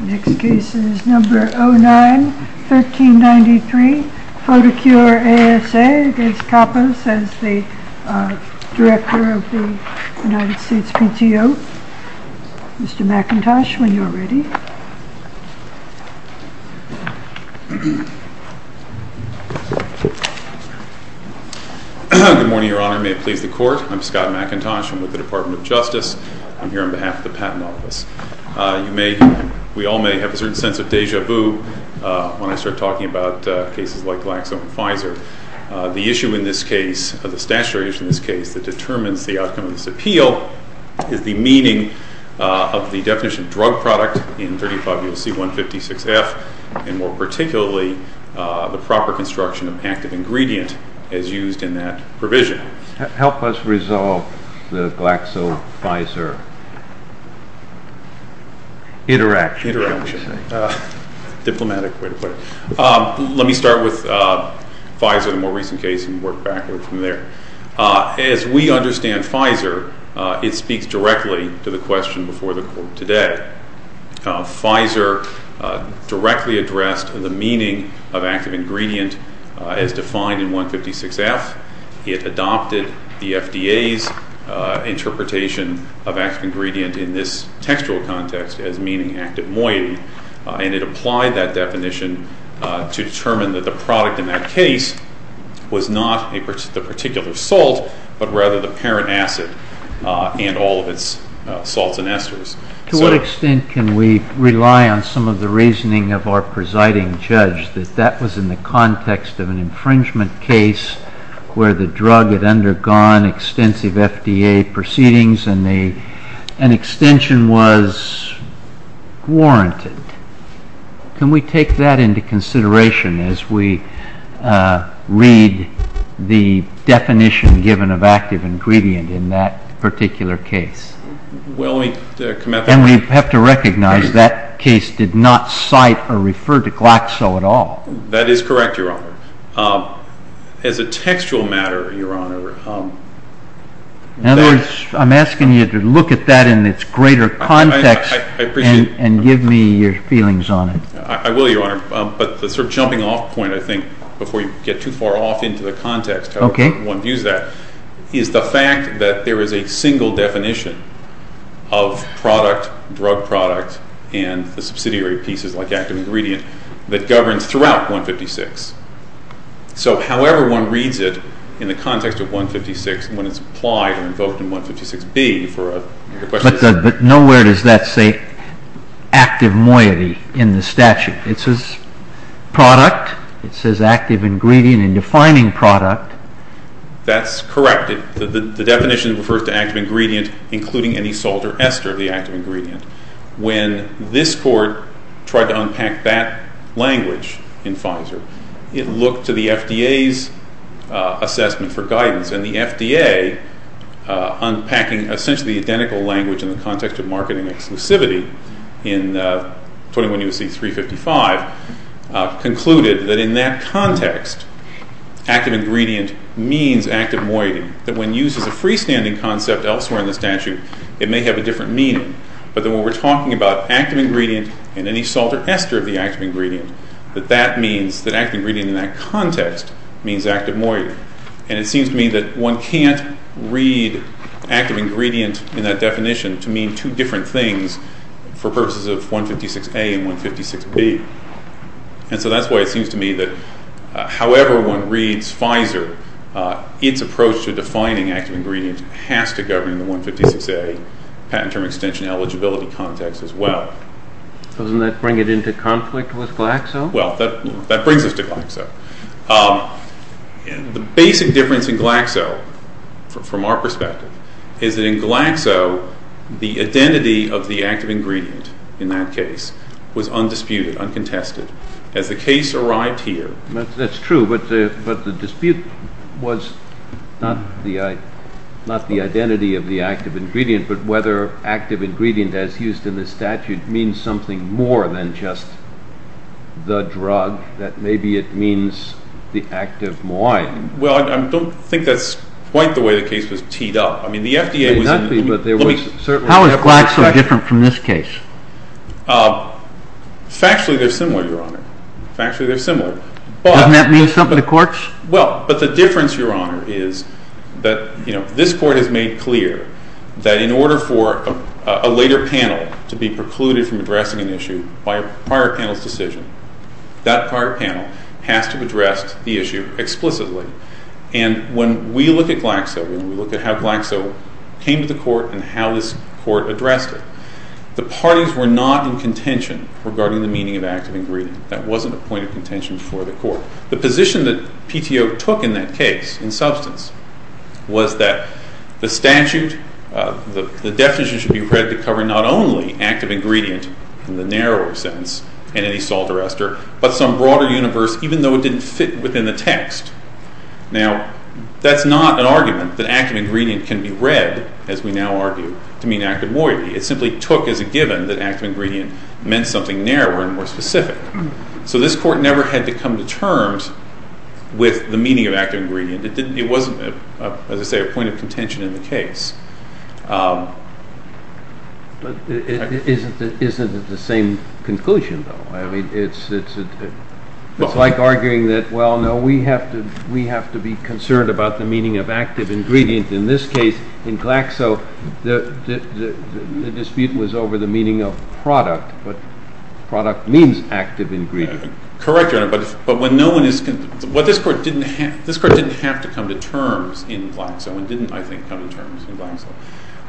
Next case is number 09-1393, photocure ASA v. Kappos, as the Director of the United States PTO. Mr. McIntosh, when you're ready. Good morning, Your Honor. May it please the Court. I'm Scott McIntosh. I'm with the Department of Justice. I'm here on behalf of the Patent Office. You may, we all may have a certain sense of déjà vu when I start talking about cases like Glaxo and Pfizer. The issue in this case, the statutory issue in this case, that determines the outcome of this appeal is the meaning of the definition of drug product in 35 U.S.C. 156F, and more particularly, the proper construction of active ingredient as used in that provision. Help us resolve the Glaxo-Pfizer interaction. Interaction, diplomatic way to put it. Let me start with Pfizer, the more recent case, and work back from there. As we understand Pfizer, it speaks directly to the question before the Court today. Pfizer directly addressed the meaning of active ingredient as defined in 156F. It adopted the FDA's interpretation of active ingredient in this textual context as meaning active moiety, and it applied that definition to determine that the product in that case was not the particular salt, but rather the parent acid and all of its salts and esters. To what extent can we rely on some of the reasoning of our presiding judge that that was in the context of an infringement case where the drug had undergone extensive FDA proceedings and an extension was warranted? Can we take that into consideration as we read the definition given of active ingredient in that particular case? And we have to recognize that case did not cite or refer to Glaxo at all. That is correct, Your Honor. As a textual matter, Your Honor... In other words, I'm asking you to look at that in its greater context and give me your feelings on it. I will, Your Honor, but the sort of jumping off point, I think, before you get too far off into the context of how one views that is the fact that there is a single definition of product, drug product, and the subsidiary pieces like active ingredient that governs throughout 156. So however one reads it in the context of 156, when it's applied or invoked in 156B for a question... But nowhere does that say active moiety in the statute. It says product. It says active ingredient in defining product. That's correct. The definition refers to active ingredient including any salt or ester of the active ingredient. When this court tried to unpack that language in Pfizer, it looked to the FDA's assessment for guidance and the FDA, unpacking essentially identical language in the context of marketing exclusivity in 21 U.C. 355, concluded that in that context active ingredient means active moiety. That when used as a freestanding concept elsewhere in the statute, it may have a different meaning. But then when we're talking about active ingredient and any salt or ester of the active ingredient, that that means that active ingredient in that context means active moiety. And it seems to me that one can't read active ingredient in that definition to mean two different things for purposes of 156A and 156B. And so that's why it seems to me that however one reads Pfizer, its approach to defining active ingredient has to govern the 156A patent term extension eligibility context as well. Doesn't that bring it into conflict with Glaxo? Well, that brings us to Glaxo. The basic difference in Glaxo from our perspective is that in Glaxo, the identity of the active ingredient in that case was undisputed, uncontested. As the case arrived here... That's true, but the dispute was not the identity of the active ingredient, but whether active ingredient as used in the statute means something more than just the drug, that maybe it means the active moiety. Well, I don't think that's quite the way the case was teed up. I mean, the FDA was... How is Glaxo different from this case? Factually, they're similar, Your Honor. Factually, they're similar. Doesn't that mean something to courts? Well, but the difference, Your Honor, is that this court has made clear that in order for a later panel to be precluded from addressing an issue by a prior panel's decision, that prior panel has to have addressed the issue explicitly. And when we look at Glaxo, when we look at how Glaxo came to the court and how this court addressed it, the parties were not in contention regarding the meaning of active ingredient. That wasn't a point of contention for the court. The position that PTO took in that case, in substance, was that the statute, the definition should be read to cover not only active ingredient in the narrower sense, and any salt arrestor, but some broader universe, even though it didn't fit within the text. Now, that's not an argument that active ingredient can be read, as we now argue, to mean active moiety. It simply took as a given that active ingredient meant something narrower and more specific. So this court never had to come to terms with the meaning of active ingredient. It wasn't, as I say, a point of contention in the case. But isn't it the same conclusion, though? I mean, it's like arguing that, well, no, we have to be concerned about the meaning of active ingredient. In this case, in Glaxo, the dispute was over the meaning of product, but product means active ingredient. Correct, Your Honor. But this court didn't have to come to terms in Glaxo and didn't, I think, come to terms in Glaxo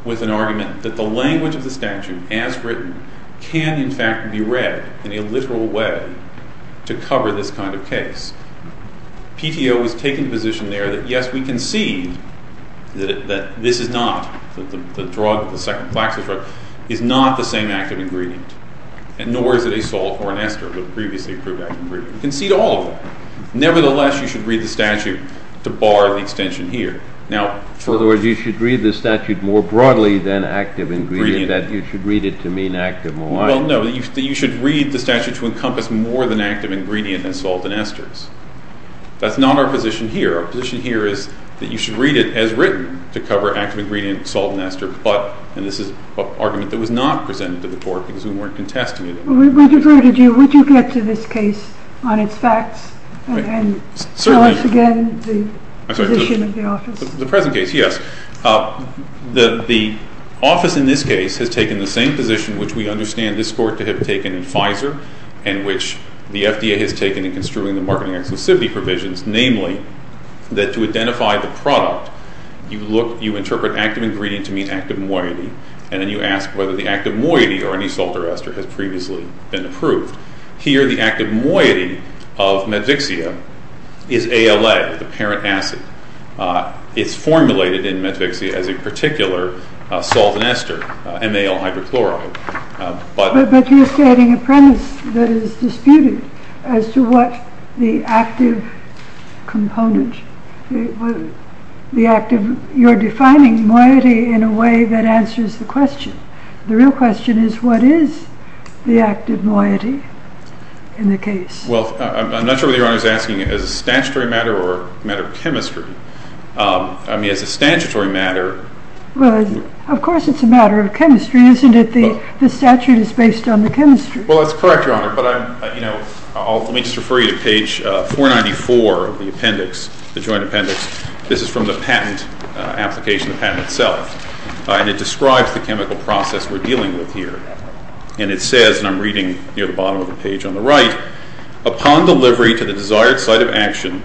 with an argument that the language of the statute, as written, can, in fact, be read in a literal way to cover this kind of case. PTO is taking position there that, yes, we concede that this is not, that the drug, the second Glaxo drug, is not the same active ingredient, nor is it a salt or an ester that previously proved active ingredient. We concede all of them. Nevertheless, you should read the statute to bar the extension here. In other words, you should read the statute more broadly than active ingredient, that you should read it to mean active more widely. Well, no, you should read the statute to encompass more than active ingredient than salt and esters. That's not our position here. Our position here is that you should read it as written to cover active ingredient, salt and ester, but, and this is an argument that was not presented to the court because we weren't contesting it. We diverted you. Would you get to this case on its facts and tell us again the position of the office? The present case, yes. The office in this case has taken the same position which we understand this court to have taken in Pfizer and which the FDA has taken in construing the marketing exclusivity provisions, namely that to identify the product, you look, you interpret active ingredient to mean active more widely, and then you ask whether the active more widely or any salt or ester has previously been approved. Here, the active moiety of metvixia is ALA, the parent acid. It's formulated in metvixia as a particular salt and ester, MAL hydrochloride. But you're stating a premise that is disputed as to what the active component, the active, you're defining moiety in a way that answers the question. The real question is what is the active moiety in the case? Well, I'm not sure whether Your Honor is asking as a statutory matter or a matter of chemistry. I mean, as a statutory matter... Well, of course it's a matter of chemistry, isn't it? The statute is based on the chemistry. Well, that's correct, Your Honor, but let me just refer you to page 494 of the appendix, the joint appendix. This is from the patent application, the patent itself. And it describes the chemical process we're dealing with here. And it says, and I'm reading near the bottom of the page on the right, upon delivery to the desired site of action,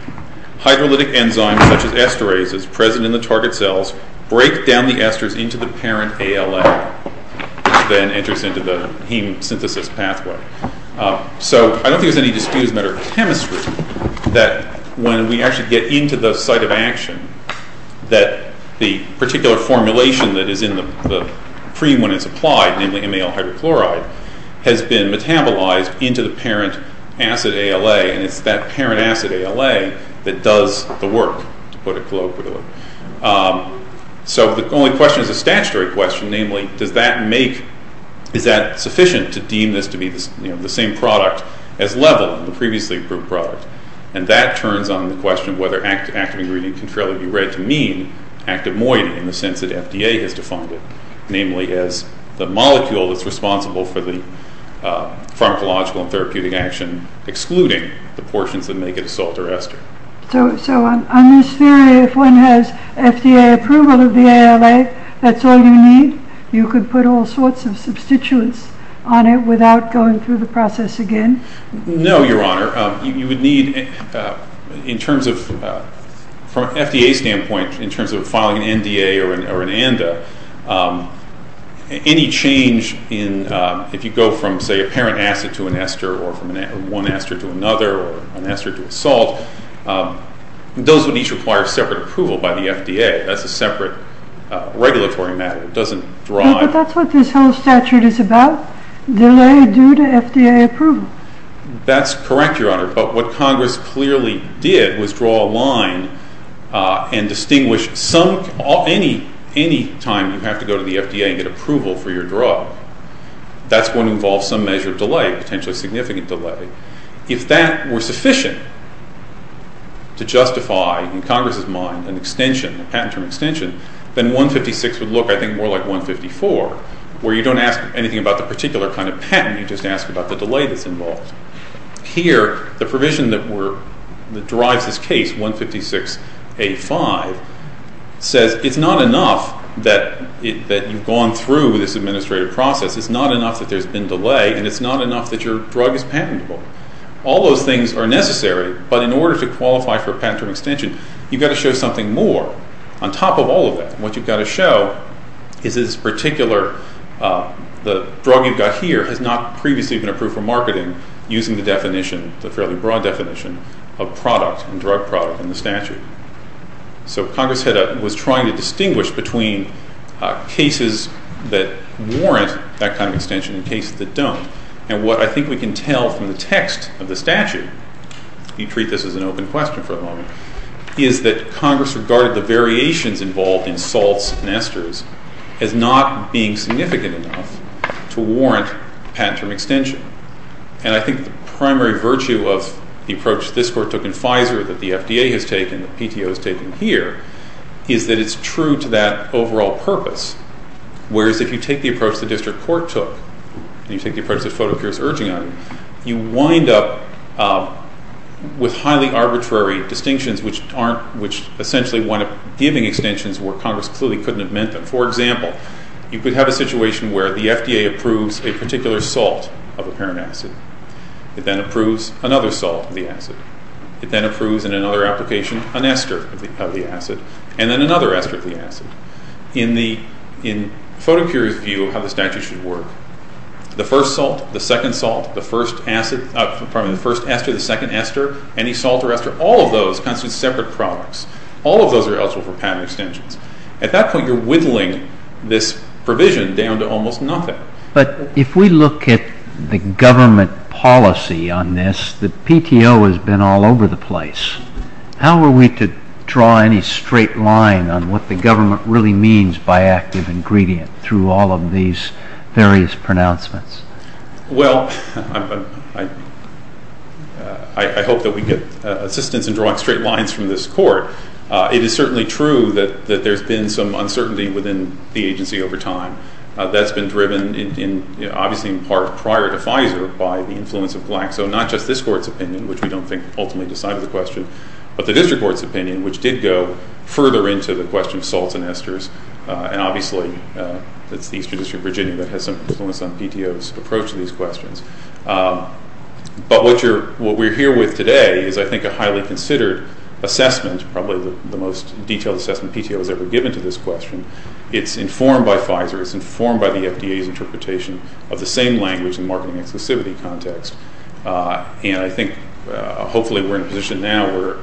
hydrolytic enzymes such as esterases present in the target cells break down the esters into the parent ALA, which then enters into the heme synthesis pathway. So I don't think there's any dispute as a matter of chemistry that when we actually get into the site of action that the particular formulation that is in the pre-when-it's-applied, namely MAL hydrochloride, has been metabolized into the parent acid ALA, and it's that parent acid ALA that does the work, to put it colloquially. So the only question is a statutory question, namely, does that make... is that sufficient to deem this to be the same product as level, the previously approved product? And that turns on the question of whether active ingredient can fairly be read to mean active moiety in the sense that FDA has defined it, namely as the molecule that's responsible for the pharmacological and therapeutic action excluding the portions that make it a salt or ester. So on this theory, if one has FDA approval of the ALA, that's all you need? You could put all sorts of substituents on it without going through the process again? No, Your Honor. You would need... in terms of... from an FDA standpoint, in terms of filing an NDA or an ANDA, any change in... if you go from, say, a parent acid to an ester or from one ester to another or an ester to a salt, those would each require separate approval by the FDA. That's a separate regulatory matter. It doesn't drive... But that's what this whole statute is about, delay due to FDA approval. That's correct, Your Honor, but what Congress clearly did was draw a line and distinguish some... any time you have to go to the FDA and get approval for your drug, that's going to involve some measure of delay, potentially significant delay. If that were sufficient to justify, in Congress's mind, an extension, a patent term extension, then 156 would look, I think, more like 154, where you don't ask anything about the particular kind of patent, you just ask about the delay that's involved. Here, the provision that were... that drives this case, 156A5, says it's not enough that you've gone through this administrative process, it's not enough that there's been delay, and it's not enough that your drug is patentable. All those things are necessary, but in order to qualify for a patent term extension, you've got to show something more on top of all of that. What you've got to show is this particular... the drug you've got here has not previously been approved for marketing using the definition, the fairly broad definition, of product and drug product in the statute. So Congress was trying to distinguish between cases that warrant that kind of extension and cases that don't. And what I think we can tell from the text of the statute, if you treat this as an open question for the moment, is that Congress regarded the variations involved in salts and esters as not being significant enough to warrant patent term extension. And I think the primary virtue of the approach this court took in Pfizer that the FDA has taken, the PTO has taken here, is that it's true to that overall purpose. Whereas if you take the approach the district court took, and you take the approach that Fotocure is urging on, you wind up with highly arbitrary distinctions which essentially wind up giving extensions where Congress clearly couldn't have meant them. For example, you could have a situation where the FDA approves a particular salt of a parent acid. It then approves another salt of the acid. It then approves in another application an ester of the acid, and then another ester of the acid. In Fotocure's view of how the statute should work, the first salt, the second salt, the first ester, the second ester, any salt or ester, all of those constitute separate products. All of those are eligible for patent extensions. At that point, you're whittling this provision down to almost nothing. But if we look at the government policy on this, the PTO has been all over the place. How are we to draw any straight line on what the government really means by active ingredient through all of these various pronouncements? Well, I hope that we get assistance in drawing straight lines from this court. It is certainly true that there's been some uncertainty within the agency over time. That's been driven, obviously in part, prior to Pfizer by the influence of Glaxo, not just this court's opinion, which we don't think ultimately decided the question, but the district court's opinion, which did go further into the question of salts and esters. And obviously, it's the Eastern District of Virginia that has some influence on PTO's approach to these questions. But what we're here with today is, I think, a highly considered assessment, probably the most detailed assessment PTO has ever given to this question. It's informed by Pfizer. It's informed by the FDA's interpretation of the same language in the marketing exclusivity context. And I think, hopefully, we're in a position now where,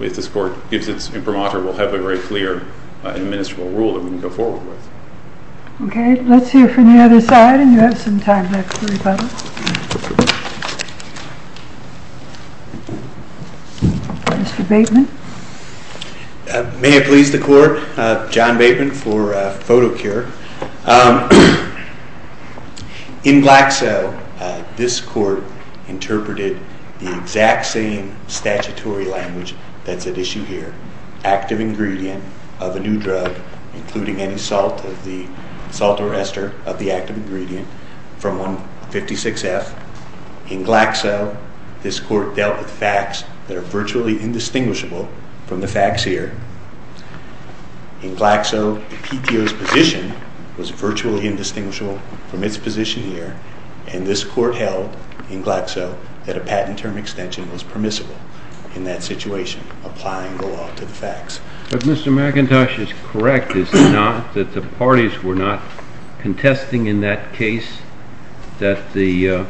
if this court gives its imprimatur, we'll have a very clear administrable rule that we can go forward with. Okay. Let's hear from the other side, and you have some time left to rebuttal. Mr. Bateman. May it please the court. John Bateman for PhotoCure. In Glaxo, this court interpreted the exact same statutory language that's at issue here. Active ingredient of a new drug, including any salt or ester of the active ingredient, from 156F. In Glaxo, this court dealt with facts that are virtually indistinguishable from the facts here. In Glaxo, the PTO's position was virtually indistinguishable from its position here, and this court held, in Glaxo, that a patent term extension was permissible in that situation, applying the law to the facts. If Mr. McIntosh is correct, it's not that the parties were not contesting in that case that the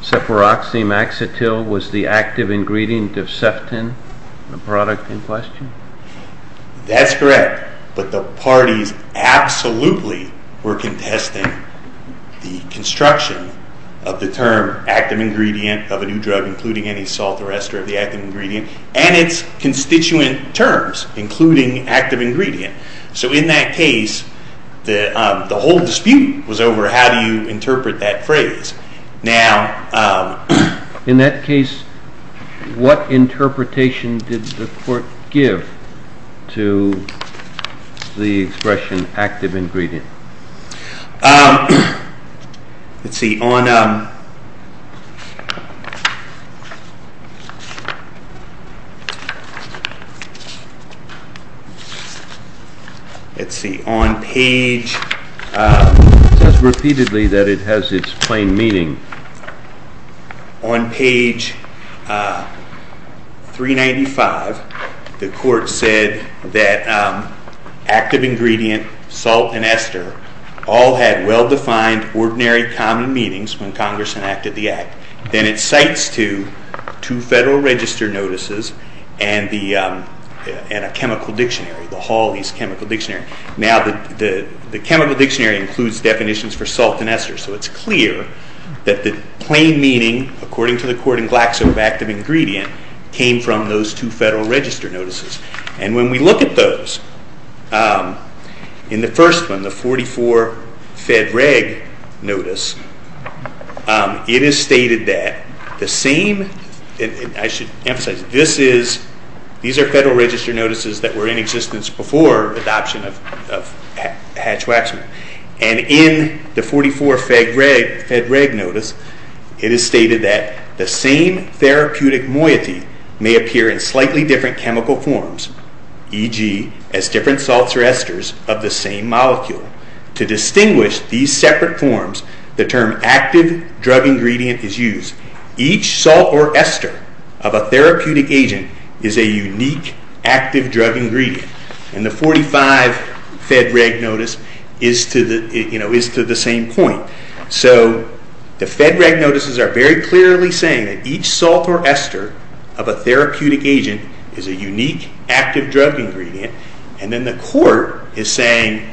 ceparoxymaxotil was the active ingredient of ceftin, the product in question? That's correct, but the parties absolutely were contesting the construction of the term active ingredient of a new drug, including any salt or ester of the active ingredient, and its constituent terms, including active ingredient. So in that case, the whole dispute was over how do you interpret that phrase. Now... In that case, what interpretation did the court give to the expression active ingredient? Let's see, on... Let's see, on page... It says repeatedly that it has its plain meaning. On page 395, the court said that active ingredient, salt, and ester all had well-defined, ordinary, common meanings when Congress enacted the Act. Then it cites two Federal Register notices and a chemical dictionary, the Hawley's chemical dictionary. Now, the chemical dictionary includes definitions for salt and ester, so it's clear that the plain meaning, according to the court in Glaxo, of active ingredient, came from those two Federal Register notices. And when we look at those, in the first one, the 44 Fed Reg notice, it is stated that the same... I should emphasize, these are Federal Register notices that were in existence before adoption of Hatch-Waxman. And in the 44 Fed Reg notice, it is stated that the same therapeutic moiety may appear in slightly different chemical forms, e.g., as different salts or esters of the same molecule. To distinguish these separate forms, the term active drug ingredient is used. Each salt or ester of a therapeutic agent is a unique active drug ingredient. And the 45 Fed Reg notice is to the same point. So the Fed Reg notices are very clearly saying that each salt or ester of a therapeutic agent is a unique active drug ingredient. And then the court is saying,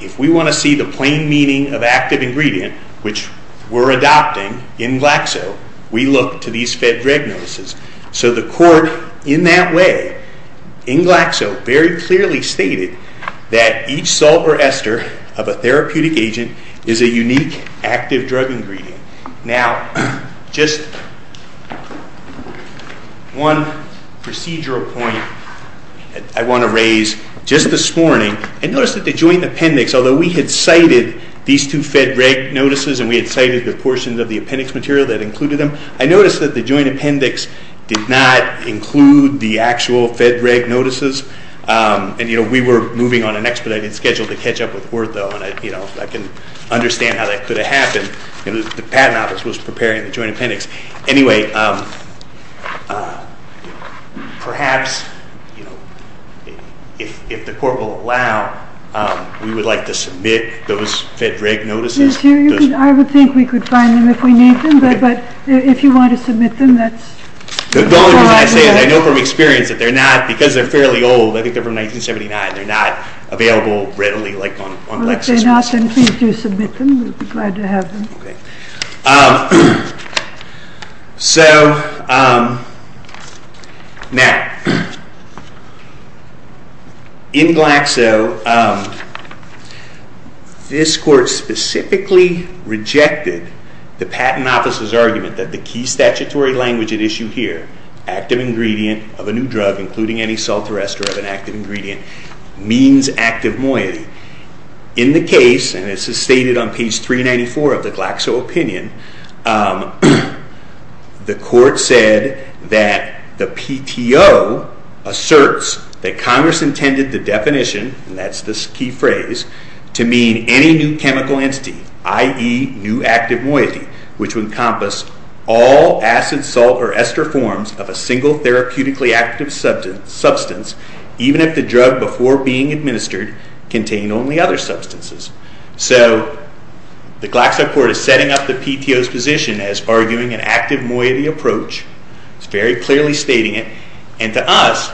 if we want to see the plain meaning of active ingredient, which we're adopting in Glaxo, we look to these Fed Reg notices. So the court, in that way, in Glaxo, very clearly stated that each salt or ester of a therapeutic agent is a unique active drug ingredient. Now, just one procedural point I want to raise. Just this morning, I noticed that the Joint Appendix, although we had cited these two Fed Reg notices and we had cited the portions of the appendix material that included them, I noticed that the Joint Appendix did not include the actual Fed Reg notices. And we were moving on an expedited schedule to catch up with the court, though, and I can understand how that could have happened. The patent office was preparing the Joint Appendix. Anyway, perhaps if the court will allow, we would like to submit those Fed Reg notices. I would think we could find them if we need them, but if you want to submit them, that's fine. The only reason I say that, I know from experience, that they're not, because they're fairly old, I think they're from 1979, they're not available readily like on Lexis. Well, if they're not, then please do submit them. We'll be glad to have them. Okay. So, now, in Glaxo, this court specifically rejected the patent office's argument that the key statutory language at issue here, active ingredient of a new drug, including any salt or ester of an active ingredient, means active moiety. In the case, and this is stated on page 394 of the Glaxo opinion, the court said that the PTO asserts that Congress intended the definition, and that's this key phrase, to mean any new chemical entity, i.e., new active moiety, which would encompass all acid, salt, or ester forms of a single therapeutically active substance, even if the drug before being administered contained only other substances. So, the Glaxo court is setting up the PTO's position as arguing an active moiety approach, it's very clearly stating it, and to us,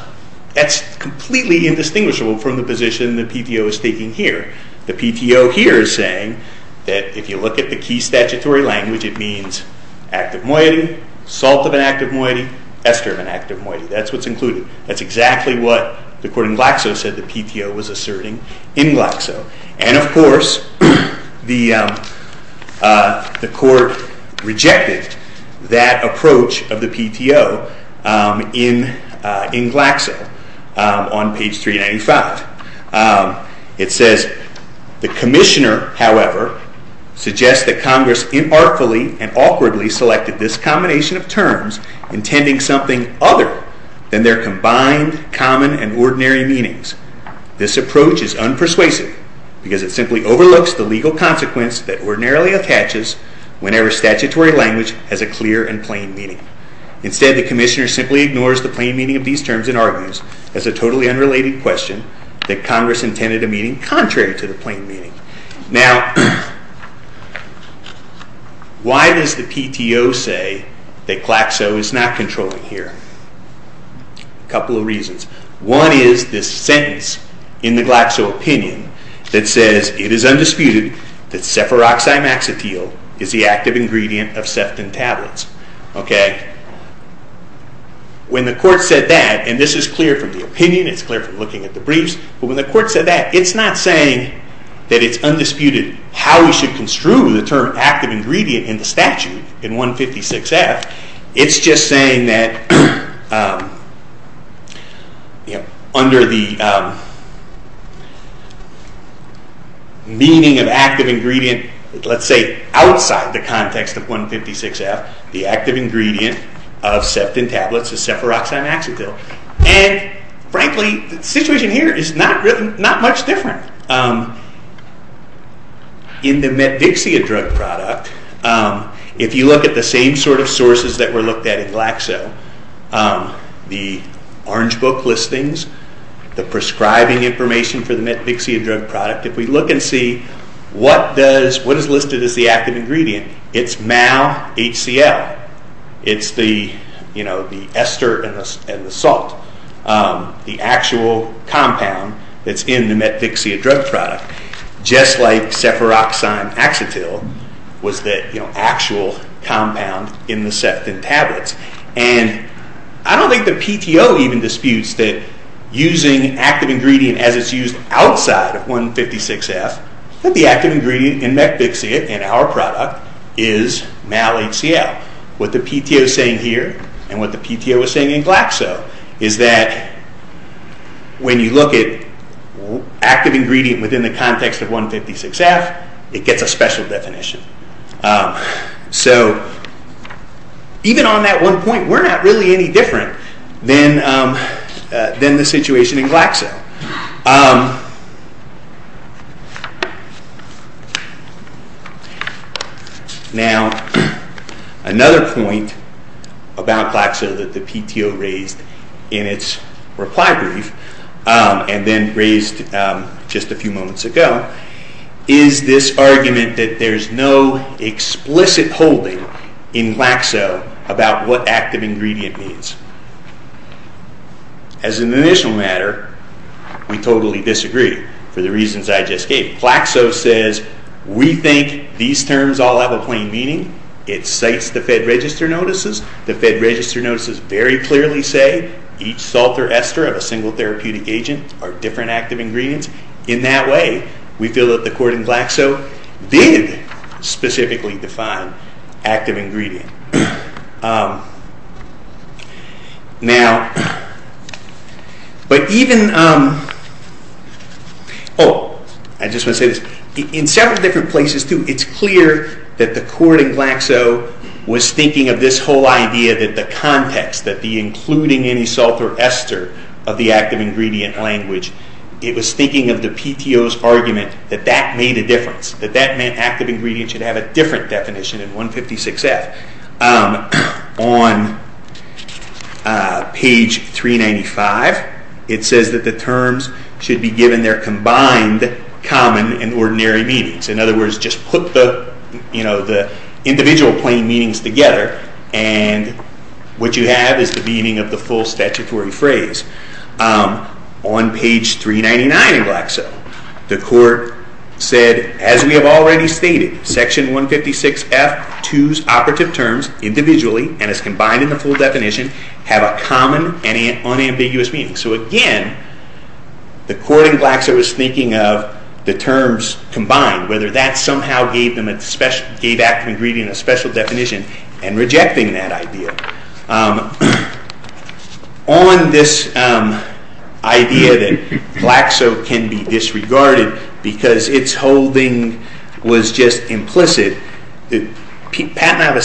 that's completely indistinguishable from the position the PTO is taking here. The PTO here is saying that if you look at the key statutory language, it means active moiety, salt of an active moiety, ester of an active moiety. That's what's included. That's exactly what the court in Glaxo said the PTO was asserting in Glaxo. And of course, the court rejected that approach of the PTO in Glaxo on page 395. It says, The commissioner, however, suggests that Congress inartfully and awkwardly selected this combination of terms intending something other than their combined, common, and ordinary meanings. This approach is unpersuasive because it simply overlooks the legal consequence that ordinarily attaches whenever statutory language has a clear and plain meaning. Instead, the commissioner simply ignores the plain meaning of these terms and argues, as a totally unrelated question, that Congress intended a meaning contrary to the plain meaning. Now, why does the PTO say that Glaxo is not controlling here? A couple of reasons. One is this sentence in the Glaxo opinion that says, It is undisputed that sephiroxymaxotille is the active ingredient of sefton tablets. Okay? When the court said that, and this is clear from the opinion, it's clear from looking at the briefs, but when the court said that, it's not saying that it's undisputed how we should construe the term active ingredient in the statute in 156F. It's just saying that under the meaning of active ingredient, let's say outside the context of 156F, the active ingredient of sefton tablets is sephiroxymaxotille. And, frankly, the situation here is not much different. In the metvixia drug product, if you look at the same sort of sources that were looked at in Glaxo, the orange book listings, the prescribing information for the metvixia drug product, if we look and see what is listed as the active ingredient, it's MALHCL. It's the ester and the salt. The actual compound that's in the metvixia drug product, just like sephiroxymaxotille was the actual compound in the sefton tablets. And I don't think the PTO even disputes that using active ingredient as it's used outside of 156F, that the active ingredient in metvixia, in our product, is MALHCL. What the PTO is saying here, and what the PTO is saying in Glaxo, is that when you look at active ingredient within the context of 156F, it gets a special definition. So, even on that one point, we're not really any different than the situation in Glaxo. Now, another point about Glaxo that the PTO raised in its reply brief, and then raised just a few moments ago, is this argument that there's no explicit holding in Glaxo about what active ingredient means. As an initial matter, we totally disagree, for the reasons I just gave. Glaxo says, we think these terms all have a plain meaning. It cites the Fed Register notices. The Fed Register notices very clearly say each salt or ester of a single therapeutic agent are different active ingredients. In that way, we feel that the court in Glaxo did specifically define active ingredient. Now, but even... Oh, I just want to say this. In several different places, too, it's clear that the court in Glaxo was thinking of this whole idea that the context, that the including any salt or ester of the active ingredient language, it was thinking of the PTO's argument that that made a difference, that that meant active ingredient should have a different definition in 156F. On page 395, it says that the terms should be given their combined common and ordinary meanings. In other words, just put the individual plain meanings together and what you have is the meaning of the full statutory phrase. On page 399 in Glaxo, the court said, as we have already stated, section 156F2's operative terms individually and as combined in the full definition have a common and unambiguous meaning. So again, the court in Glaxo was thinking of the terms combined, whether that somehow gave active ingredient a special definition and rejecting that idea. On this idea that Glaxo can be disregarded because its holding was just implicit, Patnav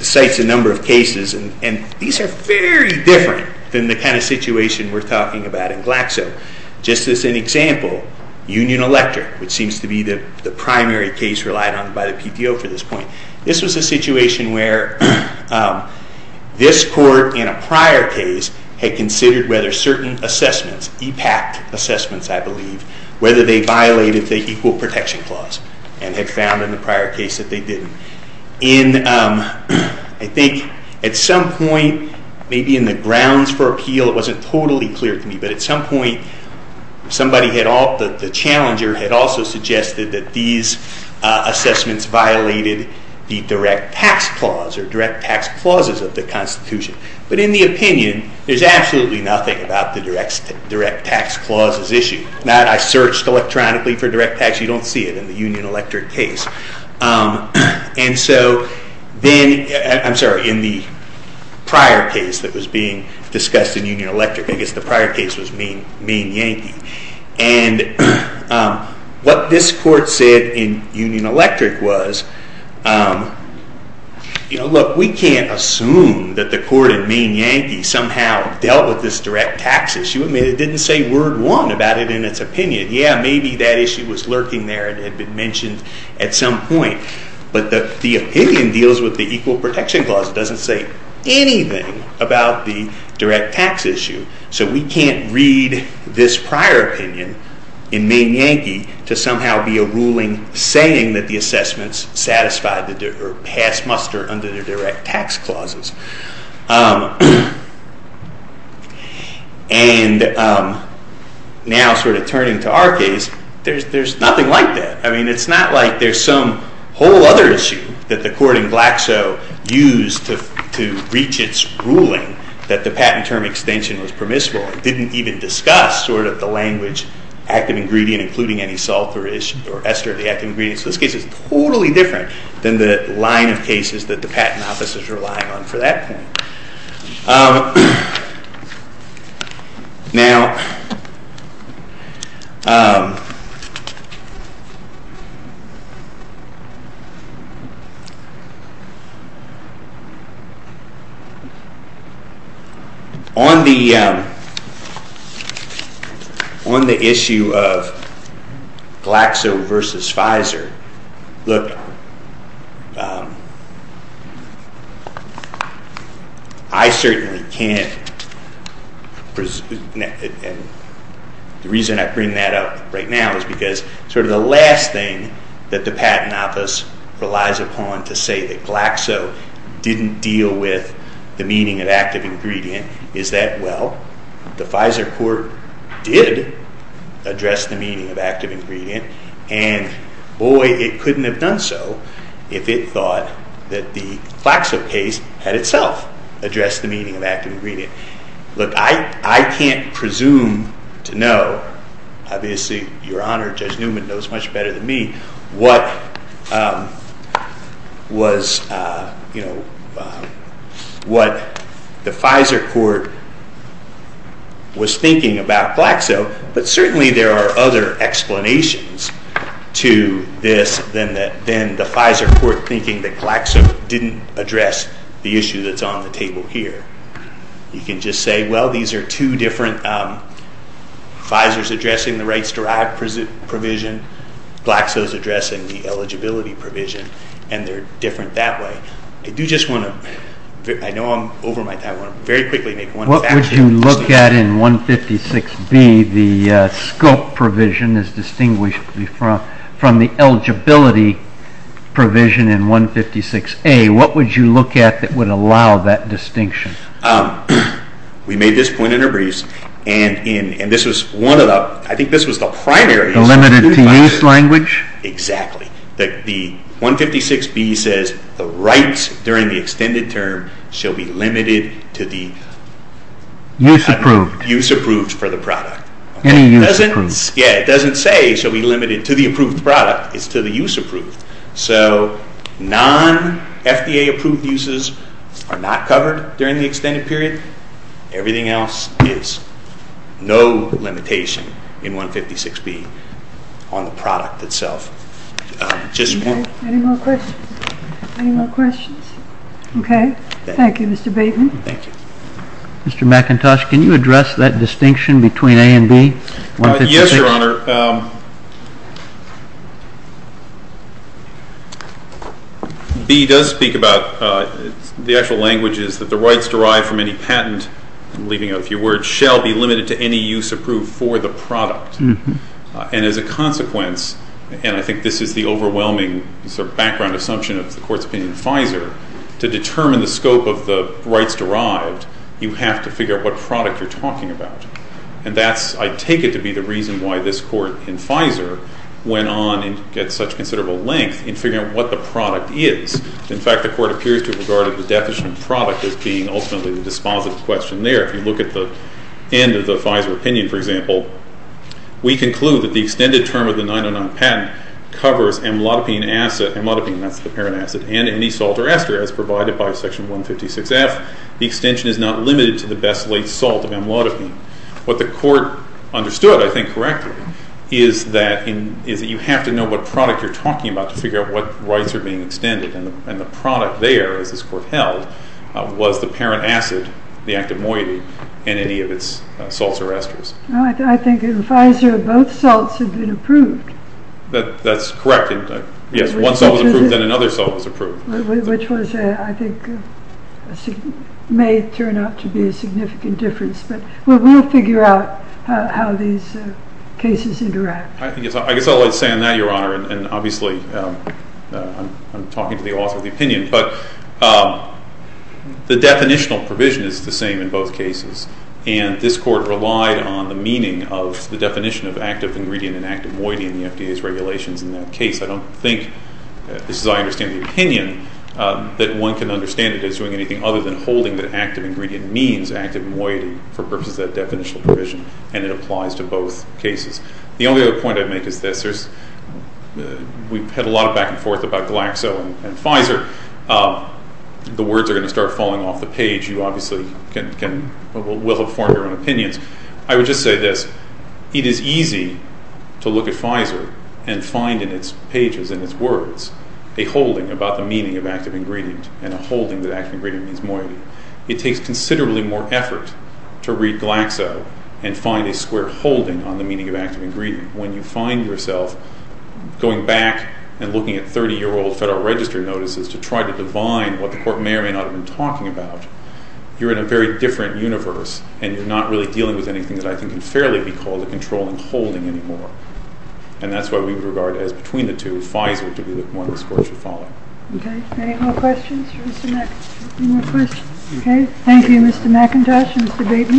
cites a number of cases and these are very different than the kind of situation we're talking about in Glaxo. Just as an example, Union Elector, which seems to be the primary case relied on by the PTO for this point, this was a situation where this court in a prior case had considered whether certain assessments, EPAC assessments I believe, whether they violated the Equal Protection Clause and had found in the prior case that they didn't. I think at some point maybe in the grounds for appeal it wasn't totally clear to me, but at some point the challenger had also suggested that these assessments violated the Direct Tax Clause or Direct Tax Clauses of the Constitution. But in the opinion there's absolutely nothing about the Direct Tax Clauses issue. I searched electronically for Direct Tax. You don't see it in the Union Elector case. And so, then, I'm sorry, in the prior case that was being discussed in Union Elector, I guess the prior case was Maine Yankee, and what this court said in Union Elector was, look, we can't assume that the court in Maine Yankee somehow dealt with this Direct Tax issue. It didn't say word won about it in its opinion. Yeah, maybe that issue was lurking there and had been mentioned at some point. But the opinion deals with the Equal Protection Clause. It doesn't say anything about the Direct Tax issue. So we can't read this prior opinion in Maine Yankee to somehow be a ruling saying that the assessments satisfied or passed muster under the Direct Tax Clauses. And now sort of turning to our case, there's nothing like that. I mean, it's not like there's some whole other issue that the court in Glaxo used to reach its ruling that the patent term extension was permissible. It didn't even discuss sort of the language active ingredient including any salt or ester of the active ingredient. So this case is totally different than the line of cases that the patent office is relying on for that point. Now, on the issue of Glaxo versus Pfizer, look, I certainly can't and the reason I bring that up right now is because sort of the last thing that the patent office relies upon to say that Glaxo didn't deal with the meaning of active ingredient is that, well, the Pfizer court did address the meaning of active ingredient and boy, it couldn't have done so if it thought that the Glaxo case had itself addressed the meaning of active ingredient. Look, I can't presume to know obviously, Your Honor, Judge Newman knows much better than me what was you know, what the Pfizer court was thinking about Glaxo, but certainly there are other explanations to this than the Pfizer court thinking that Glaxo didn't address the issue that's on the table here. You can just say, well, these are two different Pfizer's addressing the rights derived provision, Glaxo's addressing the eligibility provision and they're different that way. I do just want to, I know I'm over my time, I want to very quickly make one fact here. What would you look at in 156B, the scope provision is distinguished from the eligibility provision in 156A, what would you look at that would allow that distinction? We made this point in our briefs, and this was one of the, I think this was the primary The limited to use language? Exactly. The 156B says the rights during the extended term shall be limited to the Use approved. Use approved for the product. Any use approved. Yeah, it doesn't say shall be limited to the approved product, it's to the use approved. So, non FDA approved uses are not covered during the extended period. Everything else is no limitation in 156B on the product itself. Any more questions? Okay, thank you Mr. Bateman. Thank you. Mr. McIntosh, can you address that distinction between A and B? Yes, Your Honor. B does speak about the actual language is that the rights derived from any patent I'm leaving out a few words, shall be limited to any use approved for the product. And as a consequence and I think this is the overwhelming sort of background assumption of the Court's opinion in Pfizer, to determine the scope of the rights derived you have to figure out what product you're talking about. And that's, I take it to be the reason why this Court in Pfizer went on and got such considerable length in figuring out what the deficient product is being ultimately the dispositive question there. If you look at the end of the Pfizer opinion, for example, we conclude that the extended term of the 909 patent covers amlodipine acid, amlodipine, that's the parent acid, and any salt or ester as provided by section 156F. The extension is not limited to the best laid salt of amlodipine. What the Court understood I think correctly, is that you have to know what product you're talking about to figure out what rights are being as this Court held, was the parent acid, the active moiety, and any of its salts or esters. I think in Pfizer, both salts have been approved. That's correct. One salt was approved, then another salt was approved. Which was, I think, may turn out to be a significant difference, but we'll figure out how these cases interact. I guess I'll let say on that, Your Honor, and obviously I'm talking to the author of the opinion, but the definitional provision is the same in both cases. This Court relied on the meaning of the definition of active ingredient and active moiety in the FDA's regulations in that case. I don't think as I understand the opinion that one can understand it as doing anything other than holding that active ingredient means active moiety for purposes of that definitional provision, and it applies to both cases. The only other point I'd make is this. We've had a lot of back and forth about Glaxo and Pfizer. The words are going to start falling off the page. You obviously will have formed your own opinions. I would just say this. It is easy to look at Pfizer and find in its pages and its words a holding about the meaning of active ingredient and a holding that active ingredient means moiety. It takes considerably more effort to read Glaxo and find a square holding on the meaning of going back and looking at 30-year-old Federal Register notices to try to divine what the Court may or may not have been talking about. You're in a very different universe and you're not really dealing with anything that I think can fairly be called a controlling holding anymore. And that's why we would regard it as between the two, Pfizer to be the one this Court should follow. Any more questions for Mr. McIntosh? Thank you, Mr. McIntosh and Mr. Bateman.